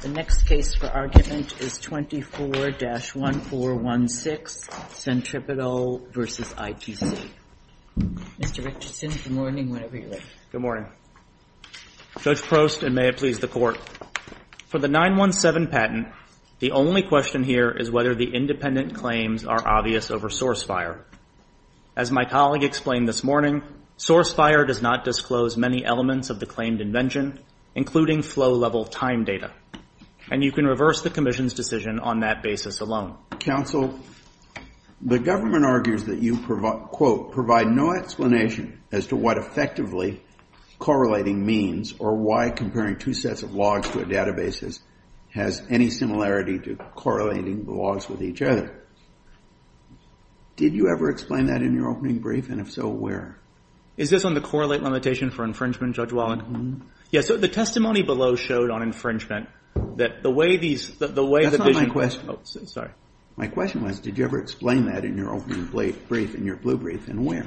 The next case for argument is 24-1416, Centripetal v. ITC. Mr. Richardson, good morning, whenever you're ready. Good morning. Judge Prost, and may it please the Court. For the 917 patent, the only question here is whether the independent claims are obvious over source fire. As my colleague explained this morning, source fire does not disclose many elements of the claimed invention, including flow-level time data, and you can reverse the Commission's decision on that basis alone. Counsel, the government argues that you, quote, provide no explanation as to what effectively correlating means or why comparing two sets of logs to a database has any similarity to correlating the logs with each other. Did you ever explain that in your opening brief, and if so, where? Is this on the correlate limitation for infringement, Judge Wallen? Yes, the testimony below showed on infringement that the way these That's not my question. Oh, sorry. My question was, did you ever explain that in your opening brief, in your blue brief, and where?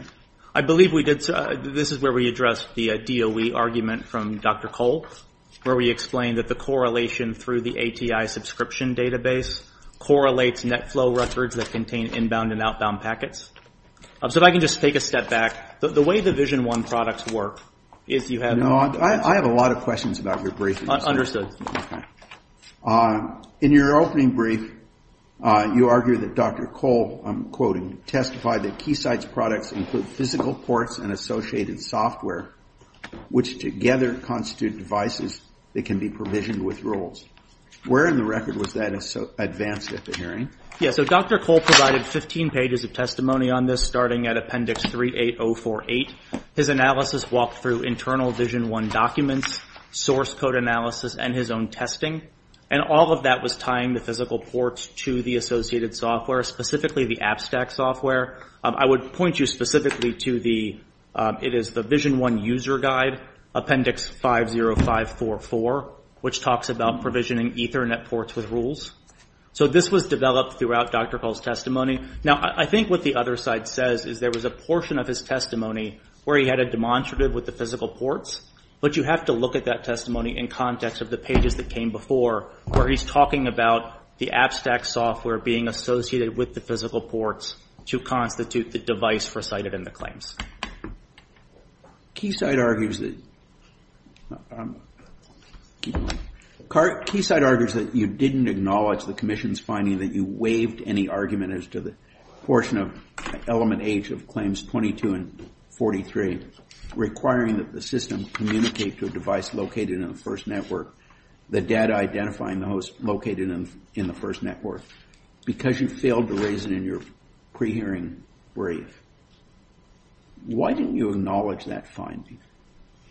I believe we did. This is where we addressed the DOE argument from Dr. Cole, where we explained that the correlation through the ATI subscription database correlates net flow records that contain inbound and outbound packets. So if I can just take a step back, the way the Vision 1 products work is you have No, I have a lot of questions about your brief. Understood. Okay. In your opening brief, you argue that Dr. Cole, I'm quoting, testified that Keysight's products include physical ports and associated software, which together constitute devices that can be provisioned with roles. Where in the record was that advanced at the hearing? Yes, so Dr. Cole provided 15 pages of testimony on this, starting at Appendix 38048. His analysis walked through internal Vision 1 documents, source code analysis, and his own testing. And all of that was tying the physical ports to the associated software, specifically the AppStack software. I would point you specifically to the, it is the Vision 1 User Guide, Appendix 50544, which talks about provisioning Ethernet ports with rules. So this was developed throughout Dr. Cole's testimony. Now, I think what the other side says is there was a portion of his testimony where he had a demonstrative with the physical ports, but you have to look at that testimony in context of the pages that came before, where he's talking about the AppStack software being associated with the physical ports to constitute the device recited in the claims. Keysight argues that you didn't acknowledge the Commission's finding that you waived any argument as to the portion of element H of Claims 22 and 43, requiring that the system communicate to a device located in the first network, the data identifying the host located in the first network. Because you failed to raise it in your pre-hearing brief, why didn't you acknowledge that finding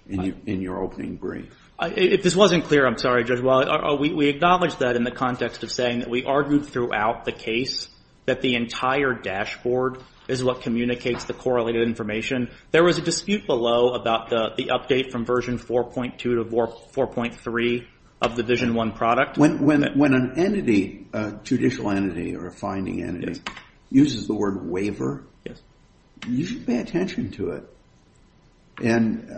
in your opening brief? If this wasn't clear, I'm sorry, Judge Wiley. We acknowledged that in the context of saying that we argued throughout the case that the entire dashboard is what communicates the correlated information. There was a dispute below about the update from version 4.2 to 4.3 of the Vision 1 product. When an entity, a judicial entity or a finding entity, uses the word waiver, you should pay attention to it. And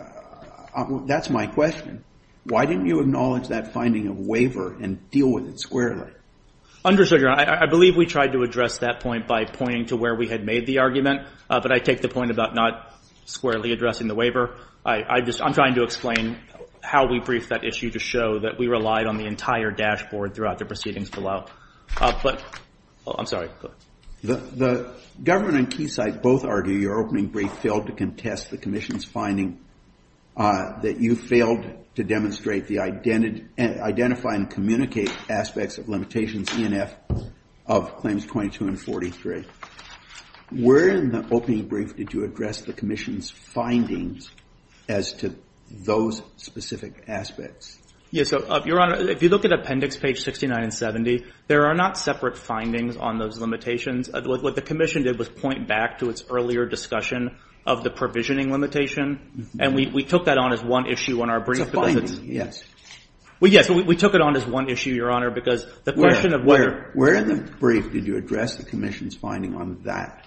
that's my question. Why didn't you acknowledge that finding of waiver and deal with it squarely? I believe we tried to address that point by pointing to where we had made the argument, but I take the point about not squarely addressing the waiver. I'm trying to explain how we briefed that issue to show that we relied on the entire dashboard throughout the proceedings below. The government and Keysight both argue your opening brief failed to contest the Commission's finding that you failed to identify and communicate aspects of limitations ENF of claims 22 and 43. Where in the opening brief did you address the Commission's findings as to those specific aspects? Your Honor, if you look at appendix page 69 and 70, there are not separate findings on those limitations. What the Commission did was point back to its earlier discussion of the provisioning limitation, and we took that on as one issue on our brief. It's a finding, yes. Well, yes, we took it on as one issue, Your Honor, because the question of whether... Where in the brief did you address the Commission's finding on that?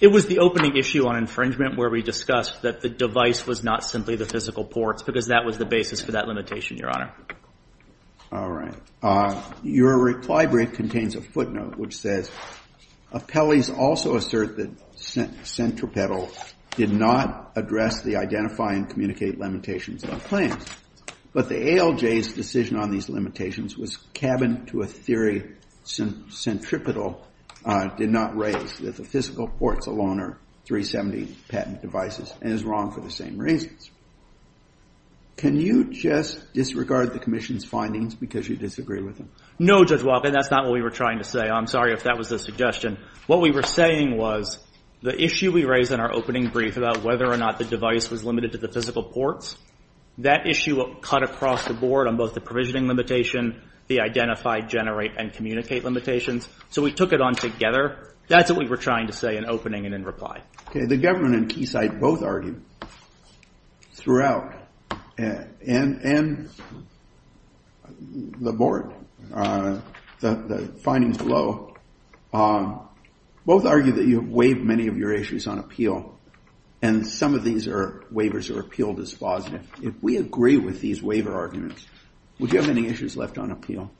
It was the opening issue on infringement where we discussed that the device was not simply the physical ports because that was the basis for that limitation, Your Honor. All right. Your reply brief contains a footnote which says, appellees also assert that centripetal did not address the identifying and communicating limitations of claims, but the ALJ's decision on these limitations was cabin to a theory centripetal did not raise that the physical ports alone are 370 patent devices and is wrong for the same reasons. Can you just disregard the Commission's findings because you disagree with them? No, Judge Walken, that's not what we were trying to say. I'm sorry if that was the suggestion. What we were saying was the issue we raised in our opening brief about whether or not the device was limited to the physical ports, that issue cut across the board on both the provisioning limitation, the identify, generate, and communicate limitations. So we took it on together. That's what we were trying to say in opening and in reply. Okay. The government and Keysight both argued throughout and the board, the findings below, both argue that you have waived many of your issues on appeal and some of these waivers are appealed as positive. If we agree with these waiver arguments, would you have any issues left on appeal?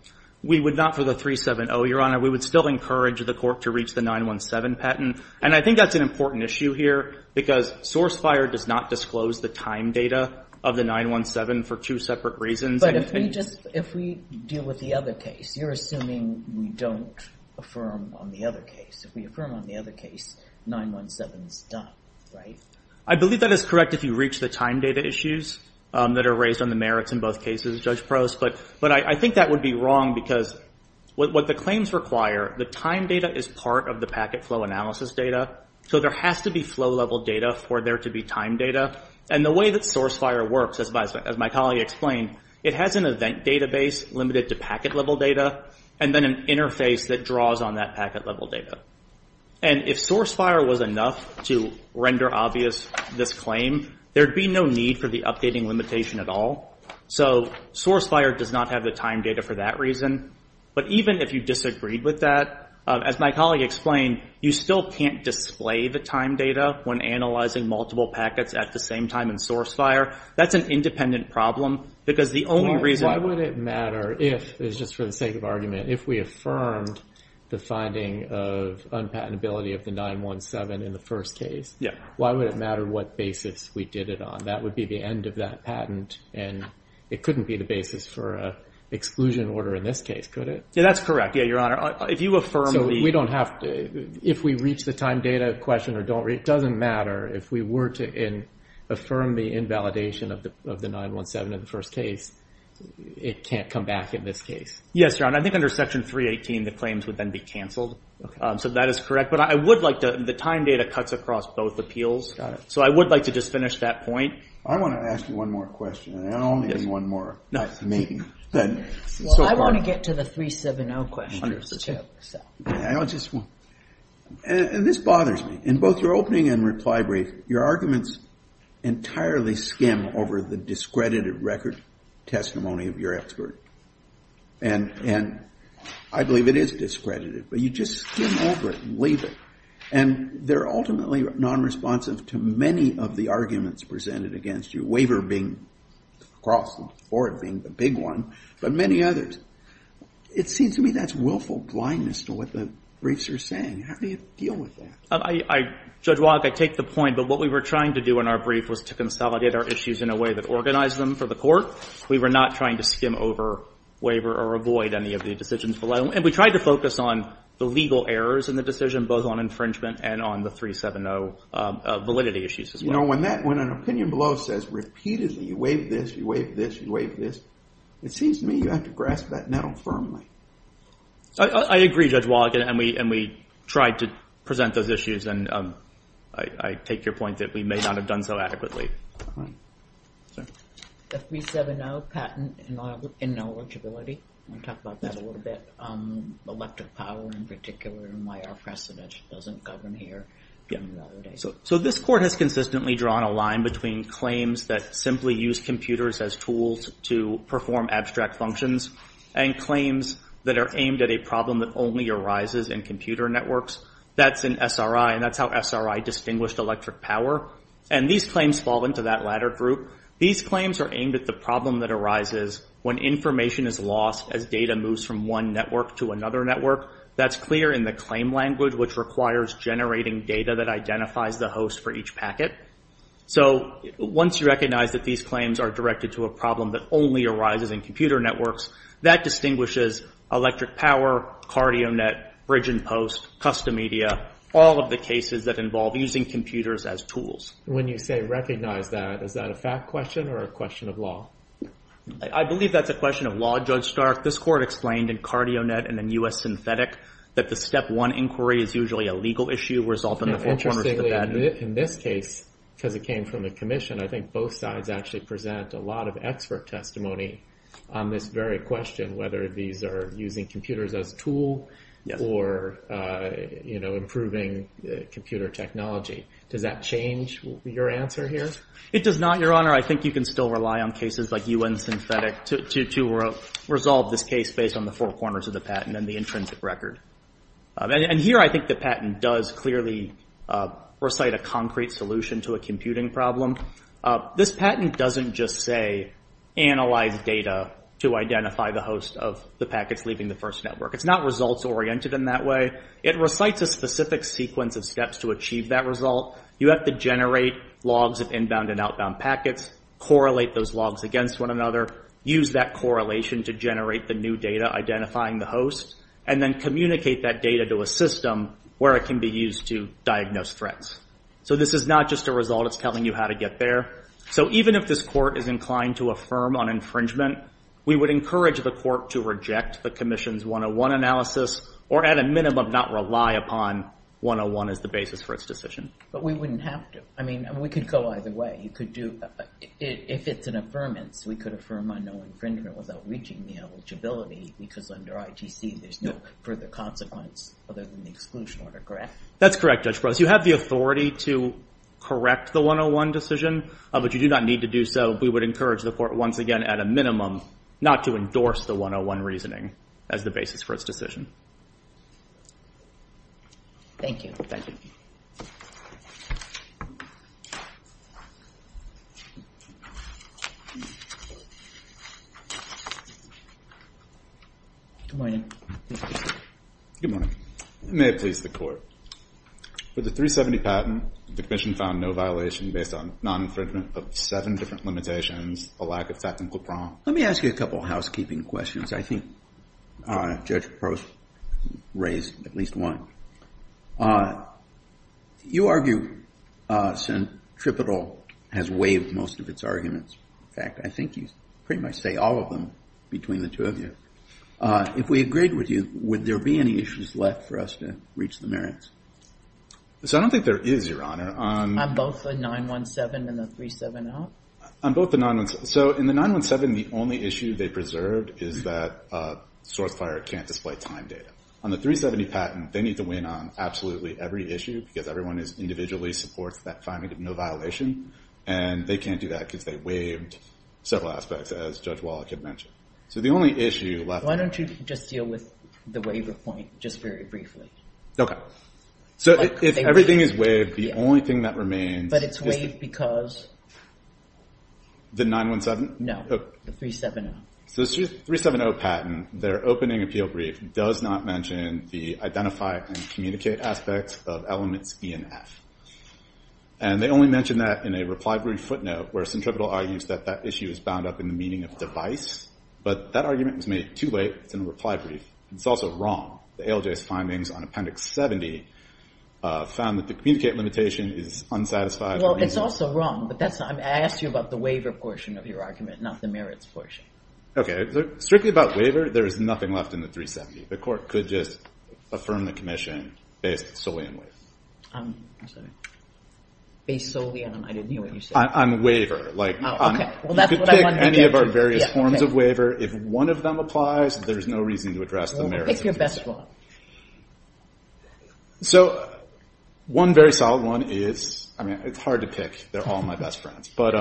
We would not for the 370, Your Honor. We would still encourage the court to reach the 917 patent. And I think that's an important issue here because source fire does not disclose the time data of the 917 for two separate reasons. But if we deal with the other case, you're assuming we don't affirm on the other case. If we affirm on the other case, 917 is done, right? I believe that is correct if you reach the time data issues that are raised on the merits in both cases, Judge Prost. But I think that would be wrong because what the claims require, the time data is part of the packet flow analysis data. So there has to be flow level data for there to be time data. And the way that source fire works, as my colleague explained, it has an event database limited to packet level data and then an interface that draws on that packet level data. And if source fire was enough to render obvious this claim, there'd be no need for the updating limitation at all. So source fire does not have the time data for that reason. But even if you disagreed with that, as my colleague explained, you still can't display the time data when analyzing multiple packets at the same time in source fire. That's an independent problem because the only reason... Why would it matter if, just for the sake of argument, if we affirmed the finding of unpatentability of the 917 in the first case? Why would it matter what basis we did it on? That would be the end of that patent and it couldn't be the basis for an exclusion order in this case, could it? If we reach the time data question or don't reach it, it doesn't matter. If we were to affirm the invalidation of the 917 in the first case, it can't come back in this case. Yes, John. I think under Section 318 the claims would then be canceled. So that is correct. But I would like to... The time data cuts across both appeals. So I would like to just finish that point. I want to ask you one more question. I don't want to give you one more. I want to get to the 370 questions too. This bothers me. In both your opening and reply brief, your arguments entirely skim over the discredited record testimony of your expert. And I believe it is discredited. But you just skim over it and leave it. And they're ultimately nonresponsive to many of the arguments presented against you. Waiver being across the board, being the big one, but many others. It seems to me that's willful blindness to what the briefs are saying. How do you deal with that? Judge Wallach, I take the point. But what we were trying to do in our brief was to consolidate our issues in a way that organized them for the court. We were not trying to skim over waiver or avoid any of the decisions below. And we tried to focus on the legal errors in the decision, both on infringement and on the 370 validity issues as well. You know, when an opinion below says repeatedly, you waive this, you waive this, you waive this, it seems to me you have to grasp that now firmly. I agree, Judge Wallach. And we tried to present those issues. And I take your point that we may not have done so adequately. 370 patent ineligibility. I want to talk about that a little bit. Elective power in particular and why our precedent doesn't govern here. So this court has consistently drawn a line between claims that simply use computers as tools to perform abstract functions and claims that are aimed at a problem that only arises in computer networks. That's in SRI. And that's how SRI distinguished electric power. And these claims fall into that latter group. These claims are aimed at the problem that arises when information is lost as data moves from one network to another network. That's clear in the claim language, which requires generating data that identifies the host for each packet. So once you recognize that these claims are directed to a problem that only arises in computer networks, that distinguishes electric power, CardioNet, Bridge and Post, custom media, all of the cases that involve using computers as tools. When you say recognize that, is that a fact question or a question of law? I believe that's a question of law, Judge Stark. This court explained in CardioNet and then U.S. Synthetic that the step one inquiry is usually a legal issue resulting in the four corners of the bed. In this case, because it came from a commission, I think both sides actually present a lot of expert testimony on this very question, whether these are using computers as a tool or improving computer technology. Does that change your answer here? It does not, Your Honor. I think you can still rely on cases like U.N. Synthetic to resolve this case based on the four corners of the patent and the intrinsic record. And here I think the patent does clearly recite a concrete solution to a computing problem. This patent doesn't just say analyze data to identify the host of the packets leaving the first network. It's not results oriented in that way. It recites a specific sequence of steps to achieve that result. You have to generate logs of inbound and outbound packets, correlate those logs against one another, use that correlation to generate the new data identifying the host, and then communicate that data to a system where it can be used to diagnose threats. So this is not just a result. It's telling you how to get there. So even if this court is inclined to affirm on infringement, we would encourage the court to reject the commission's 101 analysis or at a minimum not rely upon 101 as the basis for its decision. But we wouldn't have to. I mean, we could go either way. You could do, if it's an affirmance, we could affirm on no infringement without reaching the eligibility because under ITC there's no further consequence other than the exclusion order, correct? That's correct, Judge Pross. You have the authority to correct the 101 decision, but you do not need to do so. We would encourage the court once again at a minimum not to endorse the 101 reasoning as the basis for its decision. Thank you. Good morning. May it please the court. With the 370 patent, the commission found no violation based on non-infringement of seven different limitations, a lack of technical prompt. Let me ask you a couple of housekeeping questions. I think Judge Pross raised at least one. You argue centripetal has waived most of its arguments. In fact, I think you pretty much say all of them between the two of you. If we agreed with you, would there be any issues left for us to reach the merits? So I don't think there is, Your Honor. On both the 917 and the 370? So in the 917, the only issue they preserved is that SourceFire can't display time data. On the 370 patent, they need to win on absolutely every issue because everyone individually supports that finding of no violation, and they can't do that because they waived several aspects, as Judge Wallach had mentioned. So the only issue left... Why don't you just deal with the waiver point just very briefly? Okay. So if everything is waived, the only thing that remains... So the 370 patent, their opening appeal brief does not mention the identify and communicate aspects of elements E and F. And they only mention that in a reply brief footnote where centripetal argues that that issue is bound up in the meaning of device. But that argument was made too late. It's in a reply brief. It's also wrong. The ALJ's findings on Appendix 70 found that the communicate limitation is unsatisfied. Well, it's also wrong, but I asked you about the waiver portion of your argument, not the merits portion. Okay. So strictly about waiver, there is nothing left in the 370. The court could just affirm the commission based solely on waive. Based solely on... I didn't hear what you said. On waiver. You could pick any of our various forms of waiver. If one of them applies, there's no reason to address the merits. Pick your best one. One very solid one is... It's hard to pick. They're all my best friends. I love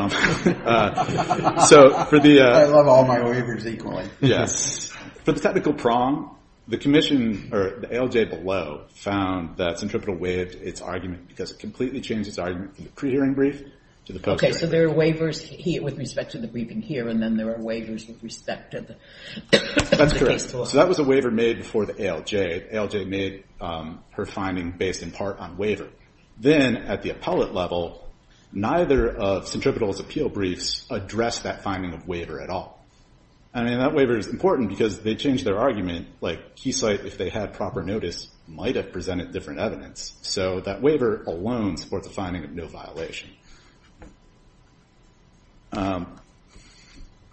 all my waivers equally. For the technical prong, the ALJ below found that centripetal waived its argument because it completely changed its argument from the pre-hearing brief to the post-hearing brief. Okay. So there are waivers with respect to the briefing here, and then there are waivers with respect to the... That's correct. So that was a waiver made before the ALJ. The ALJ made her finding based in part on waiver. Then at the appellate level, neither of centripetal's appeal briefs addressed that finding of waiver at all. I mean, that waiver is important because they changed their argument. Like, Keysight, if they had proper notice, might have presented different evidence. But moving on to the...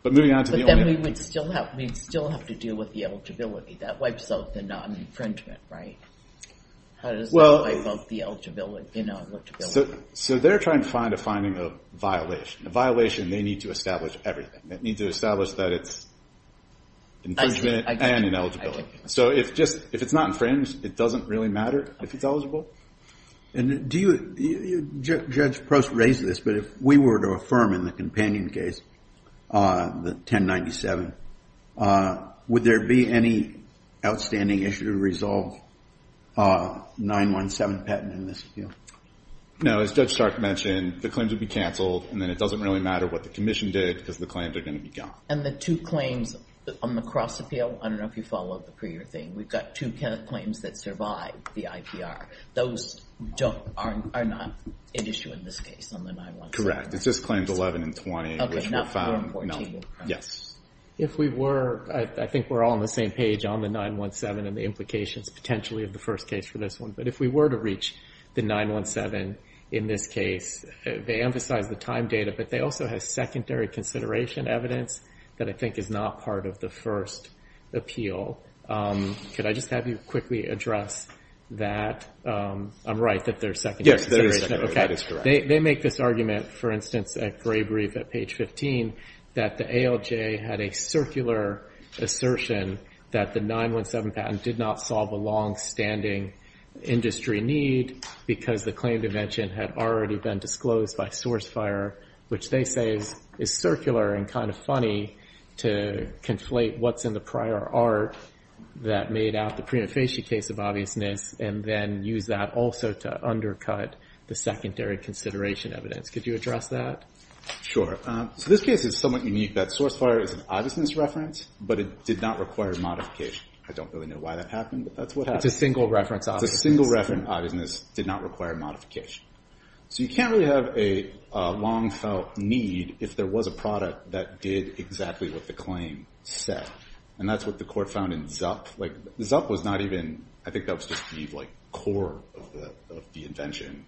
But then we'd still have to deal with the eligibility. That wipes out the non-infringement, right? How does that wipe out the eligibility? So they're trying to find a finding of violation. A violation, they need to establish everything. They need to establish that it's infringement and ineligibility. So if it's not infringed, it doesn't really matter if it's eligible. And do you... Judge Prost raised this, but if we were to affirm in the companion case, the 1097, would there be any outstanding issue to resolve 917 patent in this appeal? No. As Judge Stark mentioned, the claims would be canceled, and then it doesn't really matter what the commission did because the claims are going to be gone. And the two claims on the cross appeal, I don't know if you followed the prior thing. We've got two claims that survive the IPR. Those are not an issue in this case on the 917. Correct. It's just claims 11 and 20, which were found. If we were, I think we're all on the same page on the 917 and the implications potentially of the first case for this one. But if we were to reach the 917 in this case, they emphasize the time data, but they also have secondary consideration evidence that I think is not part of the first appeal. Could I just have you quickly address that? I'm right that there's secondary consideration. Yes, there is secondary. That is correct. They make this argument, for instance, at Gray Brief at page 15, that the ALJ had a circular assertion that the 917 patent did not solve a longstanding industry need because the claim to mention had already been disclosed by source fire, which they say is circular and kind of funny to conflate what's in the prior art that made out the prima facie case of obviousness and then use that also to undercut the secondary consideration evidence. Could you address that? Sure. So this case is somewhat unique that source fire is an obviousness reference, but it did not require modification. I don't really know why that happened, but that's what happens. It's a single reference obviousness. It's a single reference obviousness, did not require modification. So you can't really have a long felt need if there was a product that did exactly what the claim said. And that's what the court found in Zup. Zup was not even, I think that was just the core of the invention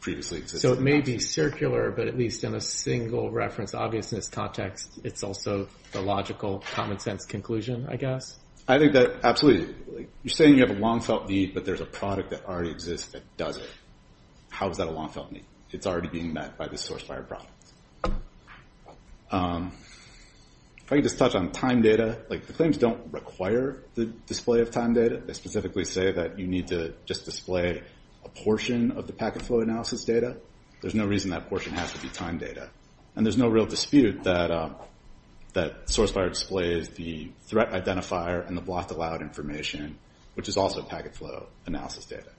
previously. So it may be circular, but at least in a single reference obviousness context, it's also the logical common sense conclusion, I guess. I think that absolutely. You're saying you have a long felt need, but there's a product that already exists that does it. How is that a long felt need? It's already being met by this source fire product. If I could just touch on time data, like the claims don't require the display of time data. They specifically say that you need to just display a portion of the packet flow analysis data. There's no reason that portion has to be time data. And there's no real dispute that source fire displays the threat identifier and the block to loud information, which is also packet flow analysis data.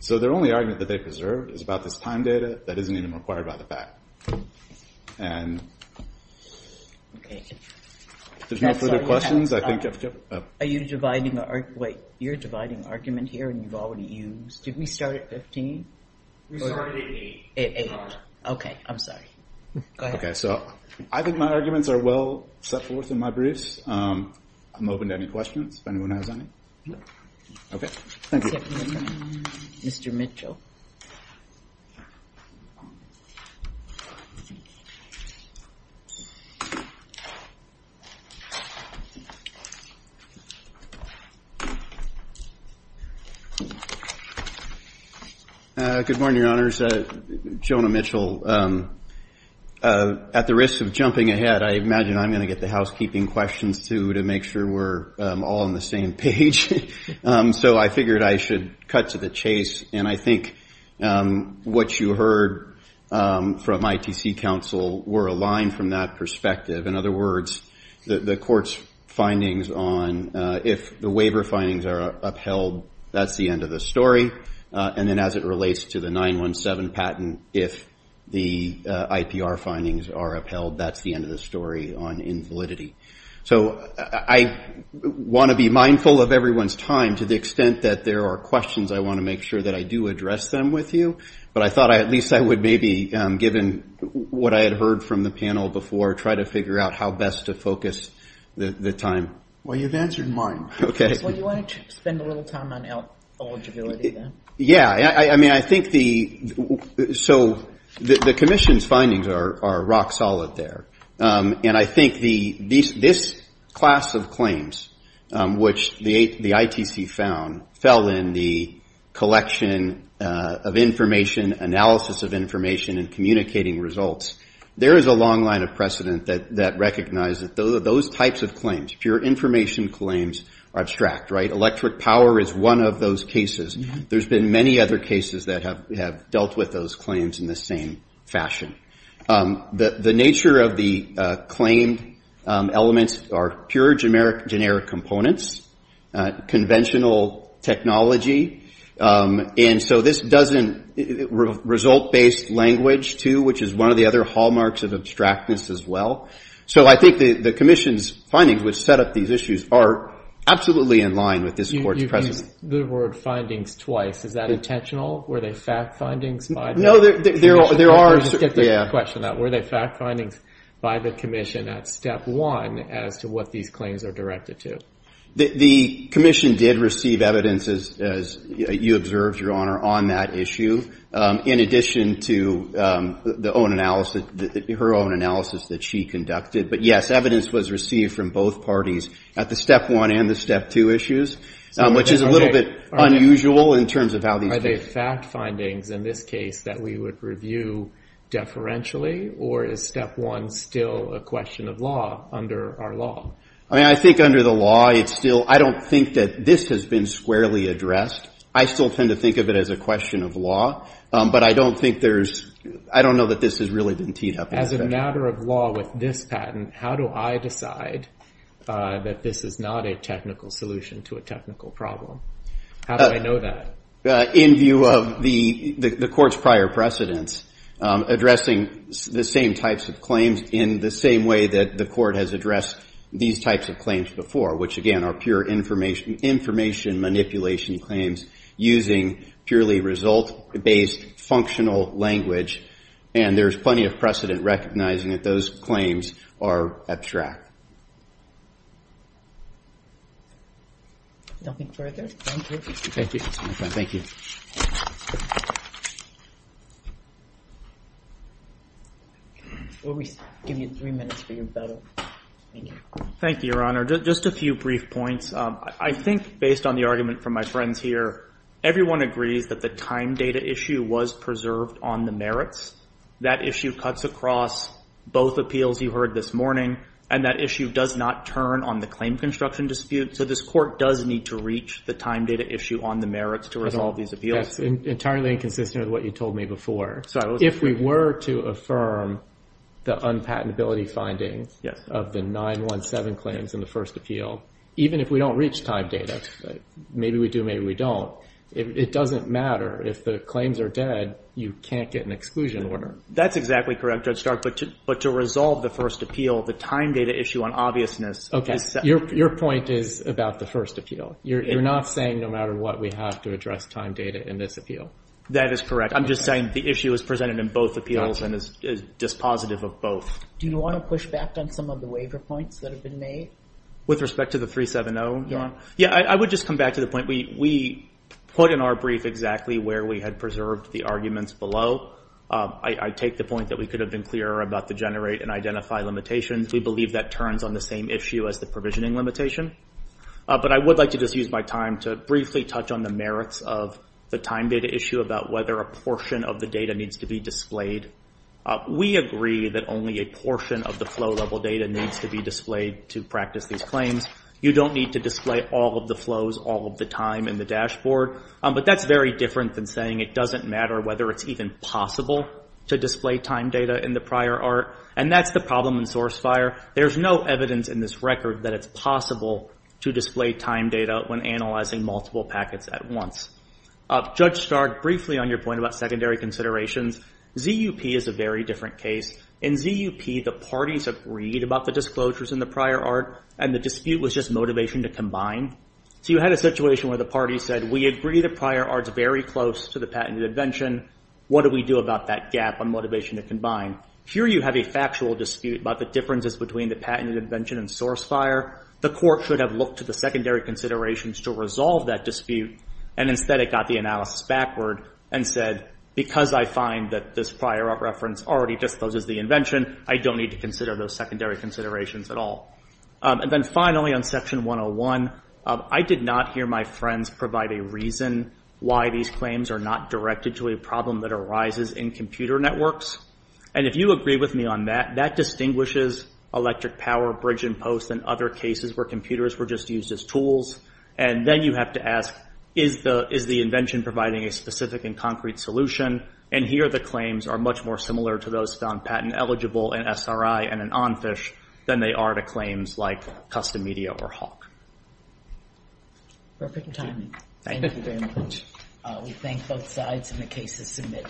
So their only argument that they preserved is about this time data that isn't even required by the fact. There's no further questions. You're dividing the argument here and you've already used. Did we start at 15? We started at 8. Okay, I'm sorry. I think my arguments are well set forth in my briefs. I'm open to any questions if anyone has any. Mr. Mitchell. Good morning, Your Honors. Jonah Mitchell. At the risk of jumping ahead, I imagine I'm going to get the housekeeping questions, too, to make sure we're all on the same page. So I figured I should cut to the chase. And I think what you heard from ITC counsel were aligned from that perspective. In other words, the court's findings on if the waiver findings are upheld, that's the end of the story. And then as it relates to the 9-1-7 patent, if the IPR findings are upheld, that's the end of the story on invalidity. So I want to be mindful of everyone's time to the extent that there are questions. I want to make sure that I do address them with you. But I thought at least I would maybe, given what I had heard from the panel before, try to figure out how best to focus the time. Well, you've answered mine. Well, you wanted to spend a little time on eligibility, then. Yeah. So the Commission's findings are rock solid there. And I think this class of claims, which the ITC found, while in the collection of information, analysis of information and communicating results, there is a long line of precedent that recognize that those types of claims, pure information claims, are abstract, right? Electric power is one of those cases. There's been many other cases that have dealt with those claims in the same fashion. The nature of the claimed elements are pure generic components, conventional technology. And so this doesn't result based language, too, which is one of the other hallmarks of abstractness as well. So I think the Commission's findings, which set up these issues, are absolutely in line with this Court's precedent. You've used the word findings twice. Is that intentional? Were they fact findings by the Commission? The Commission did receive evidence, as you observed, Your Honor, on that issue, in addition to her own analysis that she conducted. But yes, evidence was received from both parties at the step one and the step two issues, which is a little bit unusual in terms of how these cases... Are they fact findings, in this case, that we would review deferentially, or is step one still a question of law under our law? I mean, I think under the law it's still... I don't think that this has been squarely addressed. I still tend to think of it as a question of law, but I don't think there's... I don't know that this has really been teed up. As a matter of law with this patent, how do I decide that this is not a technical solution to a technical problem? How do I know that? In view of the Court's prior precedents, addressing the same types of claims in the same way that the Court has addressed these types of claims before, which, again, are pure information manipulation claims using purely result-based functional language. And there's plenty of precedent recognizing that those claims are abstract. Nothing further? Thank you. Thank you. We'll give you three minutes for your battle. Thank you. Thank you, Your Honor. Just a few brief points. I think, based on the argument from my friends here, everyone agrees that the time data issue was preserved on the merits. That issue cuts across both appeals you heard this morning, and that issue does not turn on the claim construction dispute. So this Court does need to reach the time data issue on the merits to resolve these appeals. That's entirely inconsistent with what you told me before. If we were to affirm the unpatentability findings of the 917 claims in the first appeal, even if we don't reach time data, maybe we do, maybe we don't, it doesn't matter. If the claims are dead, you can't get an exclusion order. That's exactly correct, Judge Stark. But to resolve the first appeal, the time data issue on obviousness... Okay. Your point is about the first appeal. You're not saying no matter what, we have to address time data in this appeal. That is correct. I'm just saying the issue is presented in both appeals and is dispositive of both. Do you want to push back on some of the waiver points that have been made? With respect to the 370? Yeah, I would just come back to the point we put in our brief exactly where we had preserved the arguments below. I take the point that we could have been clearer about the generate and identify limitations. We believe that turns on the same issue as the provisioning limitation. But I would like to just use my time to briefly touch on the merits of the time data issue about whether a portion of the data needs to be displayed. We agree that only a portion of the flow level data needs to be displayed to practice these claims. You don't need to display all of the flows all of the time in the dashboard. But that's very different than saying it doesn't matter whether it's even possible to display time data in the prior art. And that's the problem in source fire. There's no evidence in this record that it's possible to display time data when analyzing multiple packets at once. Judge Stark, briefly on your point about secondary considerations, ZUP is a very different case. In ZUP, the parties agreed about the disclosures in the prior art and the dispute was just motivation to combine. So you had a situation where the parties said, we agree the prior art's very close to the patented invention. What do we do about that gap on motivation to combine? Here you have a factual dispute about the differences between the patented invention and source fire. The court should have looked to the secondary considerations to resolve that dispute. And instead it got the analysis backward and said, because I find that this prior art reference already discloses the invention, I don't need to consider those secondary considerations at all. And then finally on Section 101, I did not hear my friends provide a reason why these claims are not directed to a problem that arises in computer networks. And if you agree with me on that, that distinguishes electric power bridge and post and other cases where computers were just used as tools. And then you have to ask, is the invention providing a specific and concrete solution? And here the claims are much more similar to those found patent eligible in SRI and an ONFISH than they are to claims like Custom Media or Hawk. Perfect timing. Thank you very much. We thank both sides and the cases submitted.